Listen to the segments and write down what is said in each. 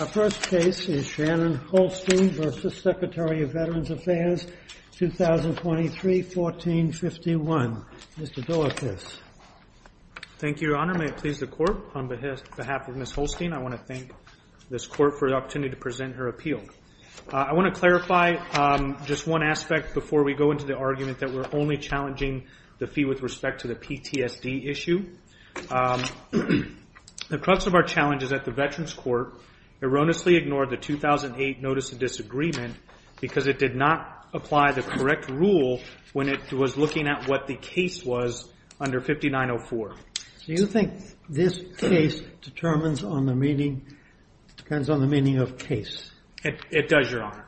Our first case is Shannon Holstein v. Secretary of Veterans Affairs, 2023-1451. Mr. Dorfthus. Thank you, Your Honor. May it please the Court, on behalf of Ms. Holstein, I want to thank this Court for the opportunity to present her appeal. I want to clarify just one aspect before we go into the argument that we're only challenging the fee with respect to the PTSD issue. The crux of our challenge is that the Veterans Court erroneously ignored the 2008 Notice of Disagreement because it did not apply the correct rule when it was looking at what the case was under 5904. Do you think this case determines on the meaning, depends on the meaning of case? It does, Your Honor.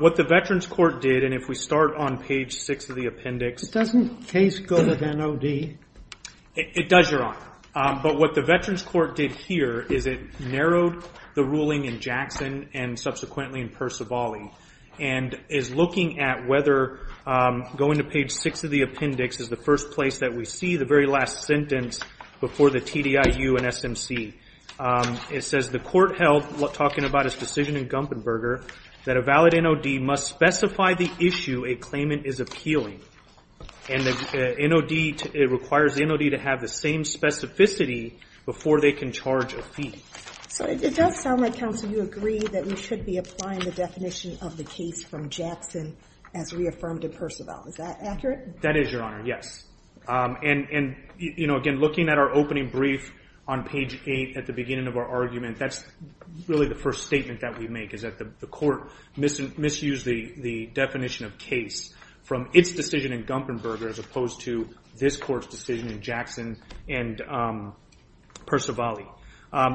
What the Veterans Court did, and if we start on page 6 of the appendix It doesn't case go to the NOD. It does, Your Honor. But what the Veterans Court did here is it narrowed the ruling in Jackson and subsequently in Percivali and is looking at whether going to page 6 of the appendix is the first place that we see the very last sentence before the TDIU and SMC. It says the Court held, talking about its decision in Gumpenberger, that a valid issue a claimant is appealing. And the NOD, it requires the NOD to have the same specificity before they can charge a fee. So it does sound like, counsel, you agree that we should be applying the definition of the case from Jackson as reaffirmed in Percival. Is that accurate? That is, Your Honor. Yes. And, you know, again, looking at our opening brief on page 8 at the beginning of our argument, that's really the first statement that we make is that the Court misused the definition of case from its decision in Gumpenberger as opposed to this Court's decision in Jackson and Percivali.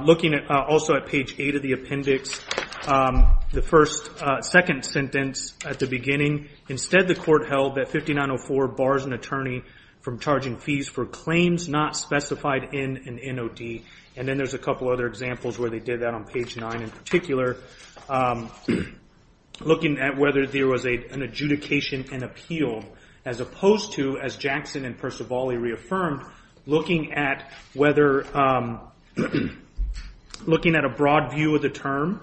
Looking also at page 8 of the appendix, the second sentence at the beginning, instead the Court held that 5904 bars an attorney from charging fees for claims not specified in an NOD. And then there's a couple of other examples where they did that on page 9 in particular, looking at whether there was an adjudication and appeal as opposed to, as Jackson and Percivali reaffirmed, looking at a broad view of the term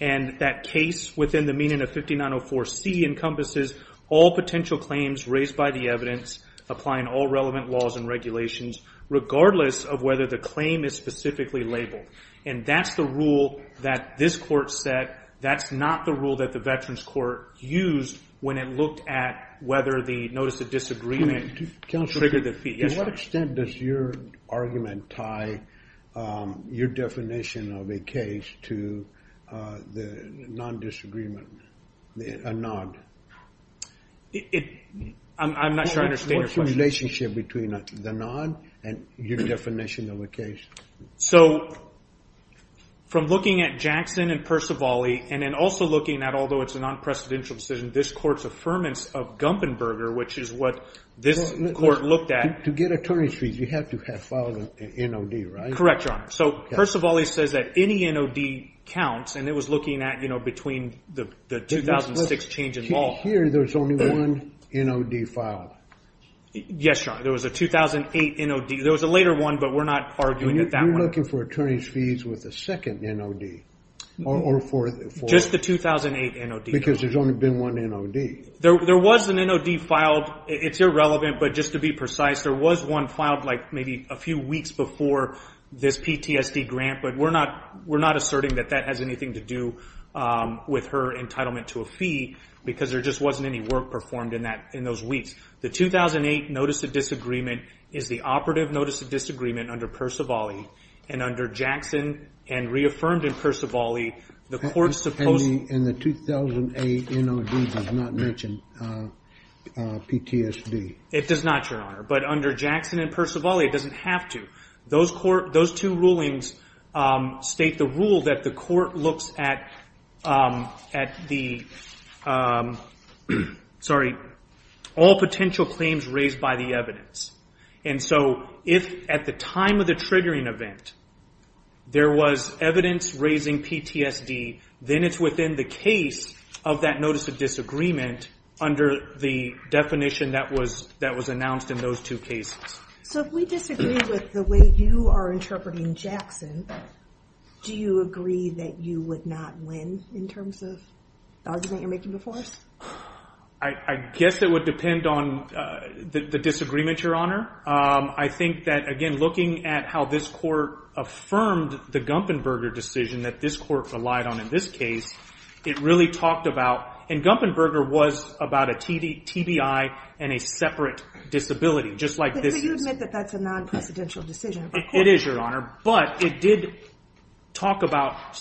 and that case within the meaning of 5904C encompasses all potential claims raised by the evidence applying all relevant laws and regulations, regardless of whether the claim is specifically labeled. And that's the rule that this Court set. That's not the rule that the Veterans Court used when it looked at whether the notice of disagreement triggered the fee. Counselor, to what extent does your argument tie your definition of a case to the non-disagreement, a NOD? I'm not sure I understand your question. What's the relationship between the non and your definition of a case? So, from looking at Jackson and Percivali, and then also looking at, although it's a non-precedential decision, this Court's affirmance of Gumpenberger, which is what this Court looked at. To get attorney's fees, you have to have filed an NOD, right? Correct, Your Honor. So Percivali says that any NOD counts, and it was looking at between the 2006 change in law. Here, there's only one NOD filed. Yes, Your Honor. There was a 2008 NOD. There was a later one, but we're not arguing at that one. You're looking for attorney's fees with a second NOD, or a fourth? Just the 2008 NOD. Because there's only been one NOD. There was an NOD filed. It's irrelevant, but just to be precise, there was one filed maybe a few weeks before this PTSD grant, but we're not asserting that that has anything to do with her entitlement to a fee, because there just wasn't any work performed in those weeks. The 2008 Notice of Disagreement is the operative Notice of Disagreement under Percivali, and under Jackson and reaffirmed in Percivali, the Court's supposed to... And the 2008 NOD does not mention PTSD. It does not, Your Honor, but under Jackson and Percivali, it doesn't have to. Those two rulings state the rule that the Court looks at all potential claims raised by the evidence. So if at the time of the triggering event, there was evidence raising PTSD, then it's within the case of that Notice of Disagreement under the definition that was announced in those two cases. So if we disagree with the way you are interpreting Jackson, do you agree that you would not win in terms of the argument you're making before us? I guess it would depend on the disagreement, Your Honor. I think that, again, looking at how this Court affirmed the Gumpenberger decision that this Court relied on in this case, it really talked about... And Gumpenberger was about a TBI and a separate disability, just like this... But you admit that that's a non-precedential decision of the Court. It is, Your Honor, but it did talk about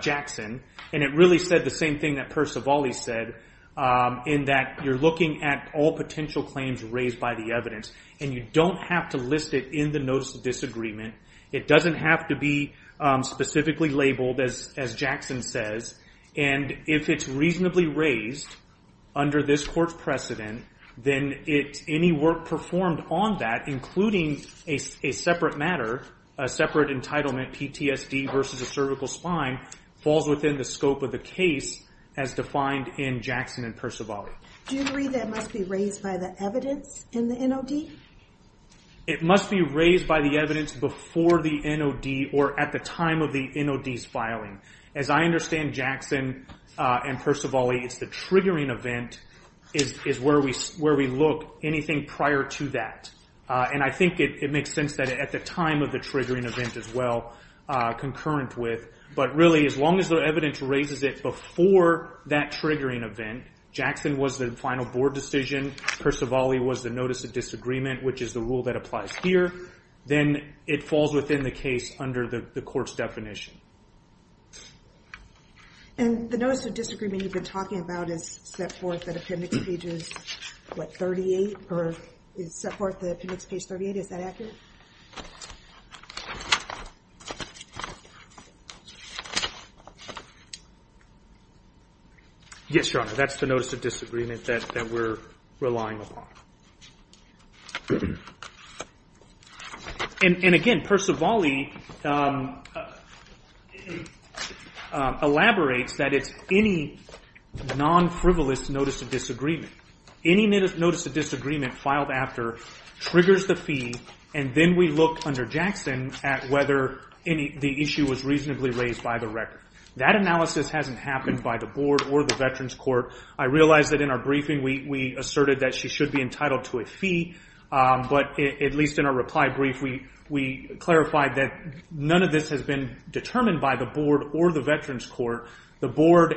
Jackson, and it really said the same thing that Percivali said in that you're looking at all potential claims raised by the evidence, and you don't have to list it in the Notice of Disagreement. It doesn't have to be specifically labeled, as Jackson says, and if it's reasonably raised under this Court's precedent, then any work performed on that, including a separate matter, a separate entitlement, PTSD versus a cervical spine, falls within the scope of the case as defined in Jackson and Percivali. Do you agree that it must be raised by the evidence in the NOD? It must be raised by the evidence before the NOD or at the time of the NOD's filing. As I understand Jackson and Percivali, it's the triggering event is where we look. Anything prior to that. I think it makes sense that at the time of the triggering event as well, concurrent with, but really as long as the evidence raises it before that triggering event, Jackson was the final board decision, Percivali was the Notice of Disagreement, which is the rule that applies here, then it falls within the case under the Court's definition. The Notice of Disagreement you've been talking about is set forth in Appendix Pages 38 or is set forth in Appendix Page 38, is that accurate? Yes, Your Honor, that's the Notice of Disagreement that we're relying upon. And again, Percivali elaborates that it's any non-frivolous Notice of Disagreement. Any Notice of Disagreement filed after triggers the fee and then we look under Jackson at whether the issue was reasonably raised by the record. That analysis hasn't happened by the board or the Veterans Court. I realize that in our briefing we asserted that she should be entitled to a fee, but at least in our reply brief we clarified that none of this has been determined by the board or the Veterans Court. The board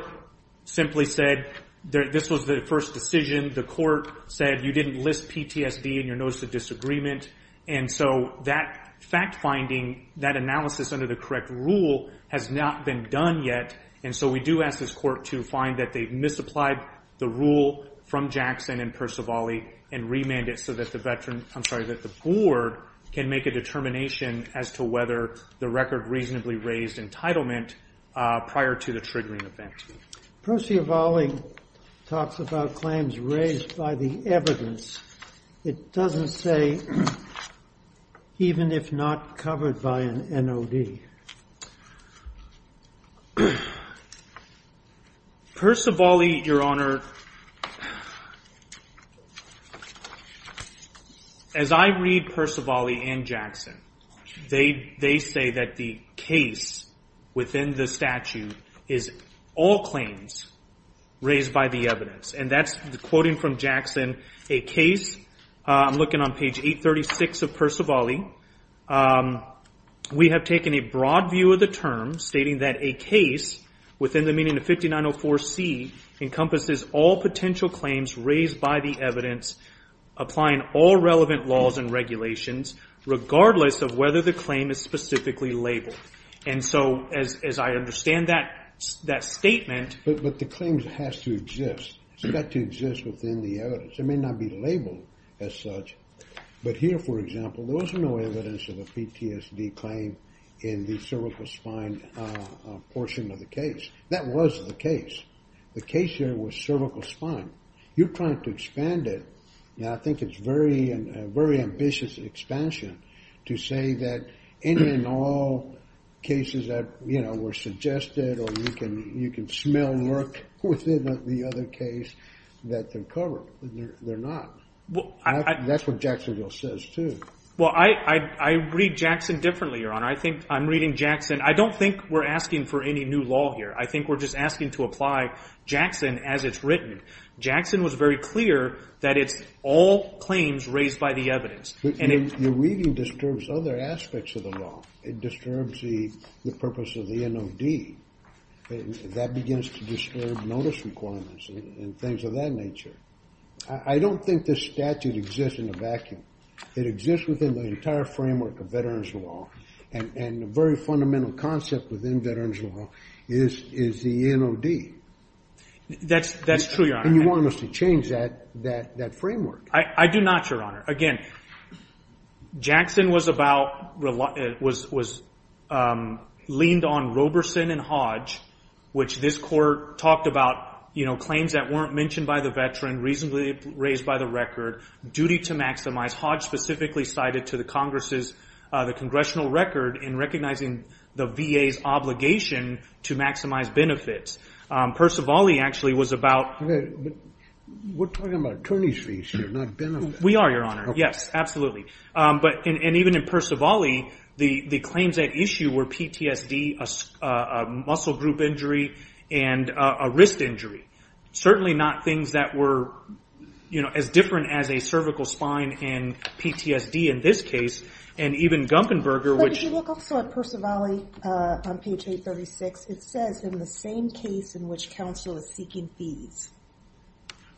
simply said this was the first decision. The court said you didn't list PTSD in your Notice of Disagreement. And so that fact-finding, that analysis under the correct rule has not been done yet. And so we do ask this court to find that they misapplied the rule from Jackson and Percivali and remand it so that the board can make a determination as to whether the record reasonably raised entitlement prior to the triggering event. Percivali talks about claims raised by the evidence. It doesn't say even if not covered by an NOD. Percivali, Your Honor, as I read Percivali and Jackson, they say that the case within the statute is all claims raised by the evidence. And that's quoting from Jackson, a case, I'm looking on page 836 of Percivali, we have taken a broad view of the term stating that a case within the meaning of 5904C encompasses all potential claims raised by the evidence applying all relevant laws and regulations regardless of whether the claim is specifically labeled. And so as I understand that statement... But the claim has to exist. It's got to exist within the evidence. It may not be labeled as such. But here, for example, there was no evidence of a PTSD claim in the cervical spine portion of the case. That was the case. The case here was cervical spine. You're trying to expand it. And I think it's a very ambitious expansion to say that any and all cases that were suggested or you can smell lurk within the other case that they're covered. They're not. That's what Jacksonville says, too. Well, I read Jackson differently, Your Honor. I think I'm reading Jackson. I don't think we're asking for any new law here. I think we're just asking to apply Jackson as it's written. Jackson was very clear that it's all claims raised by the evidence. But your reading disturbs other aspects of the law. It disturbs the purpose of the NOD. That begins to disturb notice requirements and things of that nature. I don't think this statute exists in a vacuum. It exists within the entire framework of veterans' law. And the very fundamental concept within veterans' law is the NOD. That's true, Your Honor. And you want us to change that framework. I do not, Your Honor. Again, Jackson was leaned on Roberson and Hodge, which this Court talked about claims that weren't mentioned by the veteran, reasonably raised by the record, duty to maximize. Hodge specifically cited to the Congress the congressional record in recognizing the VA's obligation to maximize benefits. Percivali actually was about... We're talking about attorney's fees here, not benefits. We are, Your Honor. Yes, absolutely. And even in Percivali, the claims at issue were PTSD, a muscle group injury, and a wrist injury. Certainly not things that were as different as a cervical spine and PTSD in this case. And even Gunkenberger, which... If you look also at Percivali on page 836, it says, in the same case in which counsel is seeking fees.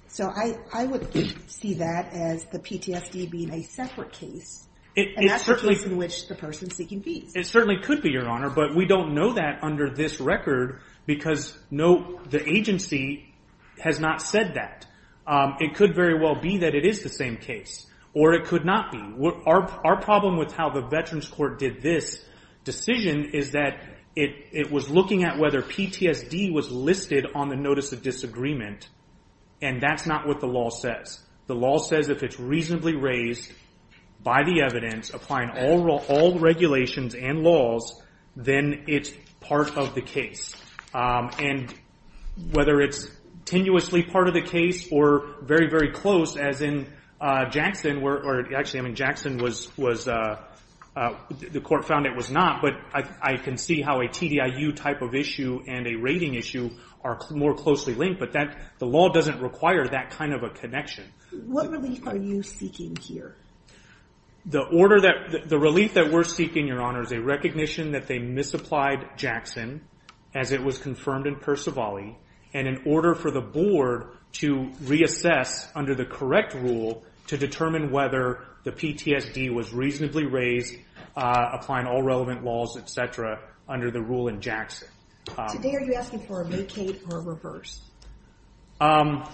So I would see that as the PTSD being a separate case. And that's the case in which the person's seeking fees. It certainly could be, Your Honor. But we don't know that under this record because no, the agency has not said that. It could very well be that it is the same case. Or it could not be. Our problem with how the Veterans Court did this decision is that it was looking at whether PTSD was listed on the Notice of Disagreement. And that's not what the law says. The law says if it's reasonably raised by the evidence, applying all regulations and laws, then it's part of the case. And whether it's tenuously part of the case or very, very close, as in Jackson, where... Actually, I mean, Jackson was... The court found it was not. But I can see how a TDIU type of issue and a rating issue are more closely linked. But the law doesn't require that kind of a connection. What relief are you seeking here? The order that... The relief that we're seeking, Your Honor, is a recognition that they misapplied Jackson as it was confirmed in Percivali. And in order for the board to reassess under the correct rule to determine whether the PTSD was reasonably raised, applying all relevant laws, et cetera, under the rule in Jackson. Today, are you asking for a vacate or a reverse? I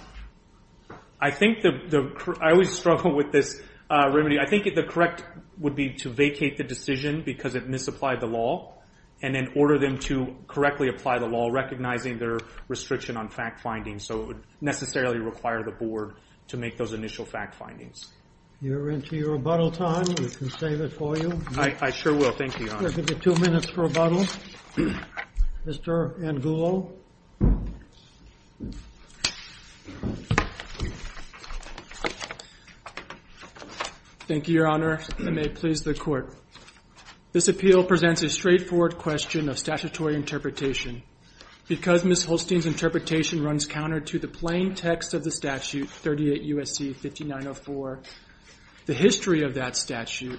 think the... I always struggle with this remedy. I think the correct would be to vacate the decision because it misapplied the law, and then order them to correctly apply the law, recognizing their restriction on fact-finding. So it would necessarily require the board to make those initial fact-findings. You're into your rebuttal time. We can save it for you. I sure will. Thank you, Your Honor. We'll give you two minutes for rebuttal. Mr. Angulo? Thank you, Your Honor. I may please the court. This appeal presents a straightforward question of statutory interpretation. Because Ms. Holstein's interpretation runs counter to the plain text of the statute, 38 U.S.C. 5904, the history of that statute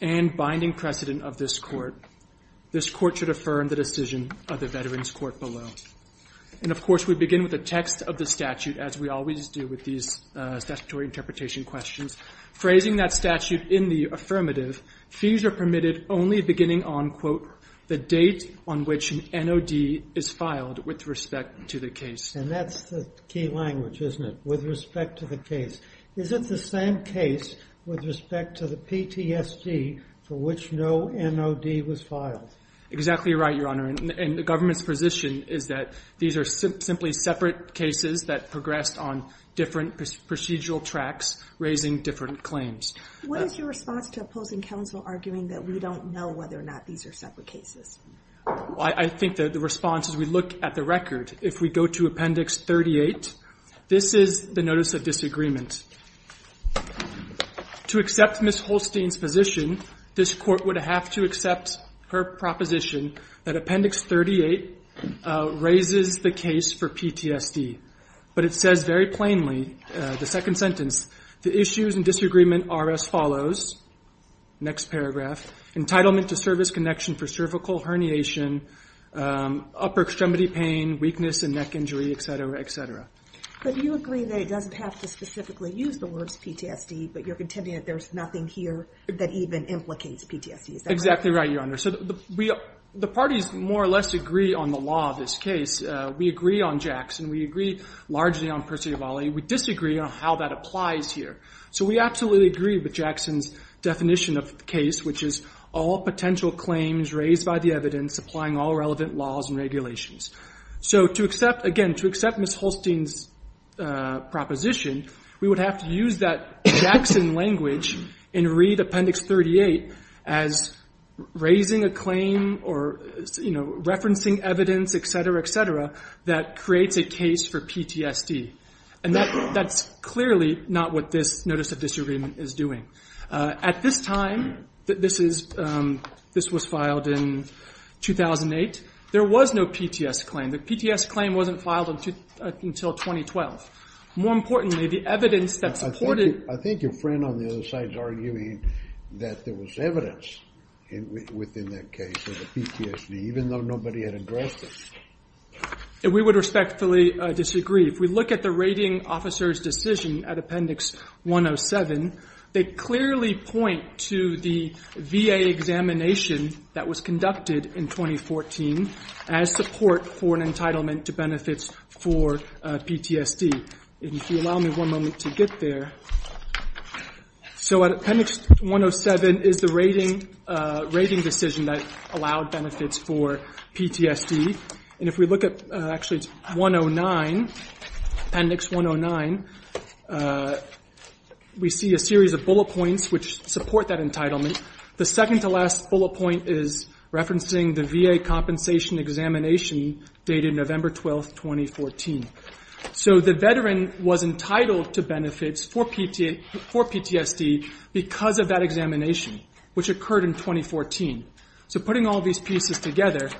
and binding precedent of this court, this court should affirm the decision of the Veterans Court below. And of course, we begin with the text of the statute, as we always do with these statutory interpretation questions. Phrasing that statute in the affirmative, fees are permitted only beginning on, quote, the date on which an NOD is filed with respect to the case. And that's the key language, isn't it? With respect to the case. Is it the same case with respect to the PTSD for which no NOD was filed? Exactly right, Your Honor. And the government's position is that these are simply separate cases that progressed on different procedural tracks, raising different claims. What is your response to opposing counsel arguing that we don't know whether or not these are separate cases? I think that the response, as we look at the record, if we go to Appendix 38, this is the notice of disagreement. To accept Ms. Holstein's position, this Court would have to accept her proposition that Appendix 38 raises the case for PTSD. But it says very plainly, the second sentence, the issues and disagreement are as follows, next paragraph, entitlement to service connection for cervical herniation, upper extremity pain, weakness and neck injury, et cetera, et cetera. But you agree that it doesn't have to specifically use the words PTSD, but you're contending that there's nothing here that even implicates PTSD. Is that right? Exactly right, Your Honor. So the parties more or less agree on the law of this case. We agree on Jackson. We agree largely on Percivale. We disagree on how that applies here. So we absolutely agree with Jackson's definition of the case, which is all potential claims raised by the evidence applying all relevant laws and regulations. So to accept, again, to accept Ms. Holstein's proposition, we would have to use that Jackson language in Reed Appendix 38 as raising a claim or, you know, referencing evidence, et cetera, et cetera, that creates a case for PTSD. And that's clearly not what this notice of disagreement is doing. At this time, this was filed in 2008, there was no PTSD claim. The PTSD claim wasn't filed until 2012. More importantly, the evidence that supported... I think your friend on the other side is arguing that there was evidence within that case of the PTSD, even though nobody had addressed it. We would respectfully disagree. If we look at the rating officer's decision at Appendix 107, they clearly point to the VA examination that was conducted in 2014 as support for an entitlement to benefits for PTSD. If you allow me one moment to get there. So Appendix 107 is the rating decision that allowed benefits for PTSD. And if we look at, actually, it's 109, Appendix 109, we see a series of bullet points which support that entitlement. The second to last bullet point is referencing the VA compensation examination dated November 12th, 2014. So the veteran was entitled to benefits for PTSD because of that examination, which occurred in 2014. So putting all these pieces together,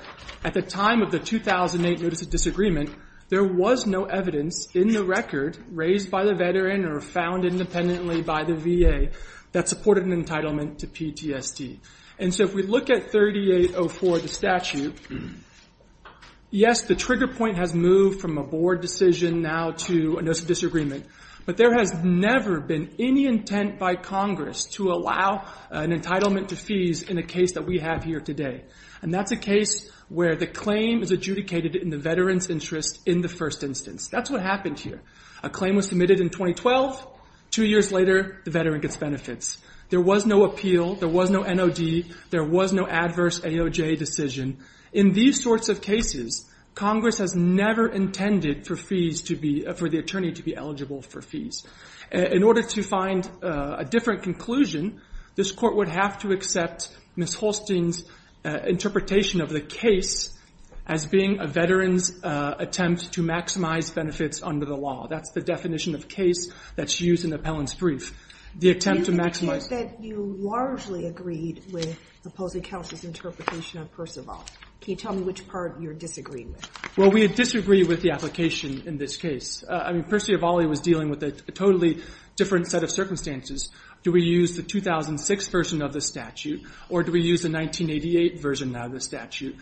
at the time of the 2008 Notice of Disagreement, there was no evidence in the record raised by the veteran or found independently by the VA that supported an entitlement to PTSD. And so if we look at 3804, the statute, yes, the trigger point has moved from a board decision now to a Notice of Disagreement. But there has never been any intent by Congress to allow an entitlement to fees in a case that we have here today. And that's a case where the claim is adjudicated in the veteran's interest in the first instance. That's what happened here. A claim was submitted in 2012. Two years later, the veteran gets benefits. There was no appeal. There was no NOD. There was no adverse AOJ decision. In these sorts of cases, Congress has never intended for the attorney to be eligible for fees. In order to find a different conclusion, this Court would have to accept Ms. Holstein's interpretation of the case as being a veteran's attempt to maximize benefits under the law. That's the definition of case that's used in the appellant's brief. The attempt to maximize You largely agreed with the opposing counsel's interpretation of Percival. Can you tell me which part you're disagreeing with? Well, we disagree with the application in this case. I mean, Percivali was dealing with a totally different set of circumstances. Do we use the 2006 version of the statute? Or do we use the 1988 version of the statute?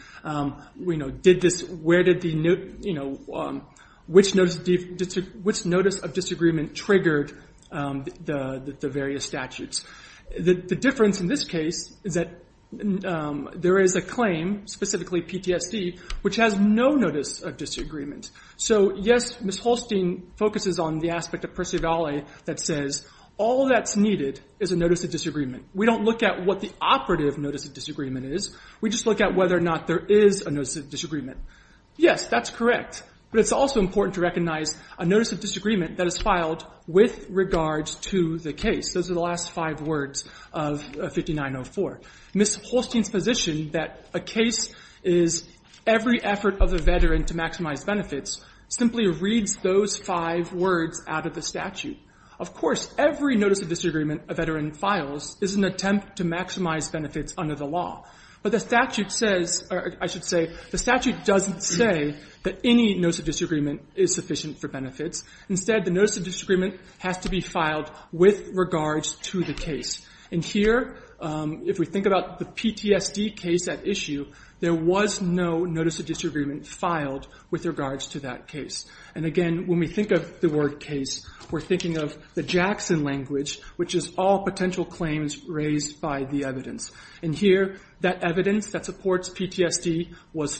Which notice of disagreement triggered the various statutes? The difference in this case is that there is a claim, specifically PTSD, which has no notice of disagreement. So, yes, Ms. Holstein focuses on the aspect of Percivali that says all that's needed is a notice of disagreement. We don't look at what the operative notice of disagreement is. We just look at whether or not there is a notice of disagreement. Yes, that's correct. But it's also important to recognize a notice of disagreement that is filed with regards to the case. Those are the last five words of 5904. Ms. Holstein's position that a case is every effort of a veteran to maximize benefits simply reads those five words out of the statute. Of course, every notice of disagreement a veteran files is an attempt to maximize benefits under the law. But the statute says, or I should say, the statute doesn't say that any notice of disagreement is sufficient for benefits. Instead, the notice of disagreement has to be filed with regards to the case. And here, if we think about the PTSD case at issue, there was no notice of disagreement filed with regards to that case. And again, when we think of the word case, we're thinking of the Jackson language, which is all potential claims raised by the evidence. And here, that evidence that supports PTSD was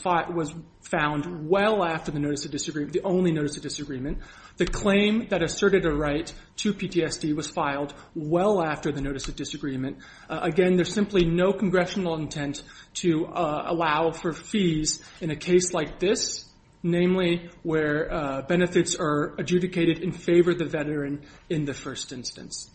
found well after the notice of disagreement, the only notice of disagreement. The claim that asserted a right to PTSD was filed well after the notice of disagreement. Again, there's simply no congressional intent to allow for fees in a case like this, namely where benefits are adjudicated in favor of the veteran in the first instance.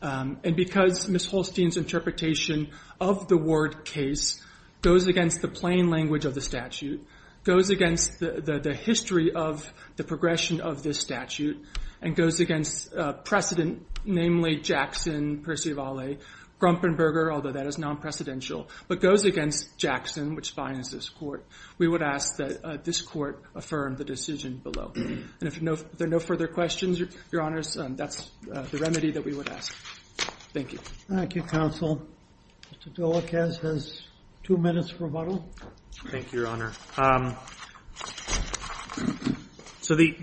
And because Ms. Holstein's interpretation of the word case goes against the plain language of the statute, goes against the history of the progression of this statute, and goes against precedent, namely Jackson, Percivali, Grumpenberger, although that is non-precedential, but goes against Jackson, which fines this court, we would ask that this court affirm the decision below. And if there are no further questions, Your Honors, that's the remedy that we would ask. Thank you. Thank you, counsel. Mr. Delacaze has two minutes for rebuttal. Thank you, Your Honor. So the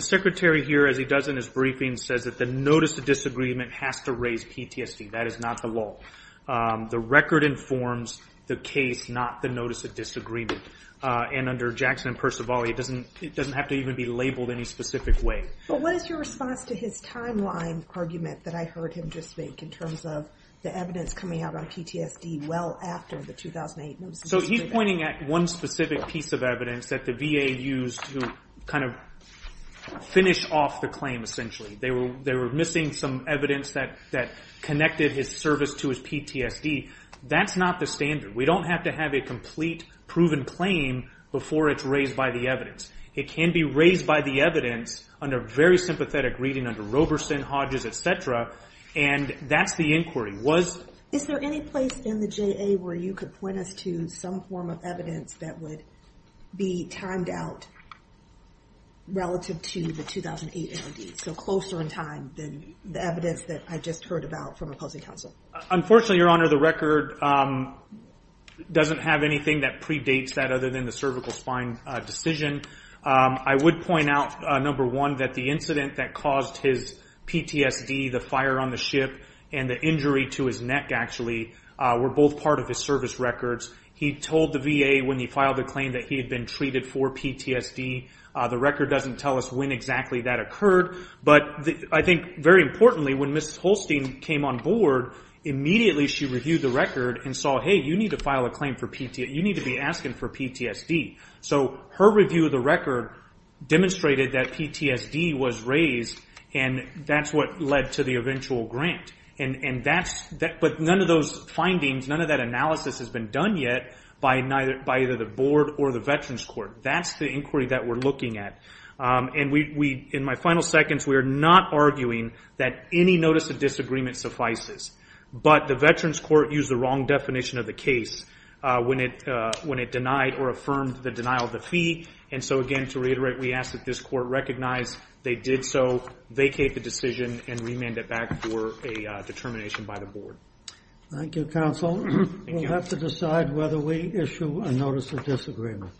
secretary here, as he does in his briefing, says that the notice of disagreement has to raise PTSD. That is not the law. The record informs the case, not the notice of disagreement. And under Jackson and Percivali, it doesn't have to even be labeled any specific way. But what is your response to his timeline argument that I heard him just make in terms of the evidence coming out on PTSD well after the 2008 notice of disagreement? So he's pointing at one specific piece of evidence that the VA used to kind of finish off the claim, essentially. They were missing some evidence that connected his service to his PTSD. That's not the standard. We don't have to have a complete proven claim before it's raised by the evidence. It can be raised by the evidence under very sympathetic reading under Roberson, Hodges, et cetera. And that's the inquiry. Is there any place in the JA where you could point us to some form of evidence that would be timed out relative to the 2008 NOD? So closer in time than the evidence that I just heard about from opposing counsel? Unfortunately, Your Honor, the record doesn't have anything that predates that other than the cervical spine decision. I would point out, number one, that the incident that caused his PTSD, the fire on the ship, and the injury to his neck, actually, were both part of his service records. He told the VA when he filed the claim that he had been treated for PTSD. The record doesn't tell us when exactly that occurred. But I think very importantly, when Mrs. Holstein came on board, immediately she reviewed the record and saw, hey, you need to file a claim for PTSD. You need to be asking for PTSD. So her review of the record demonstrated that PTSD was raised, and that's what led to the eventual grant. But none of those findings, none of that analysis has been done yet by either the board or the Veterans Court. That's the inquiry that we're looking at. In my final seconds, we are not arguing that any notice of disagreement suffices. But the Veterans Court used the wrong definition of the case when it denied or affirmed the denial of the fee. And so, again, to reiterate, we ask that this court recognize they did so, vacate the decision, and remand it back for a determination by the board. Thank you, counsel. We'll have to decide whether we issue a notice of disagreement.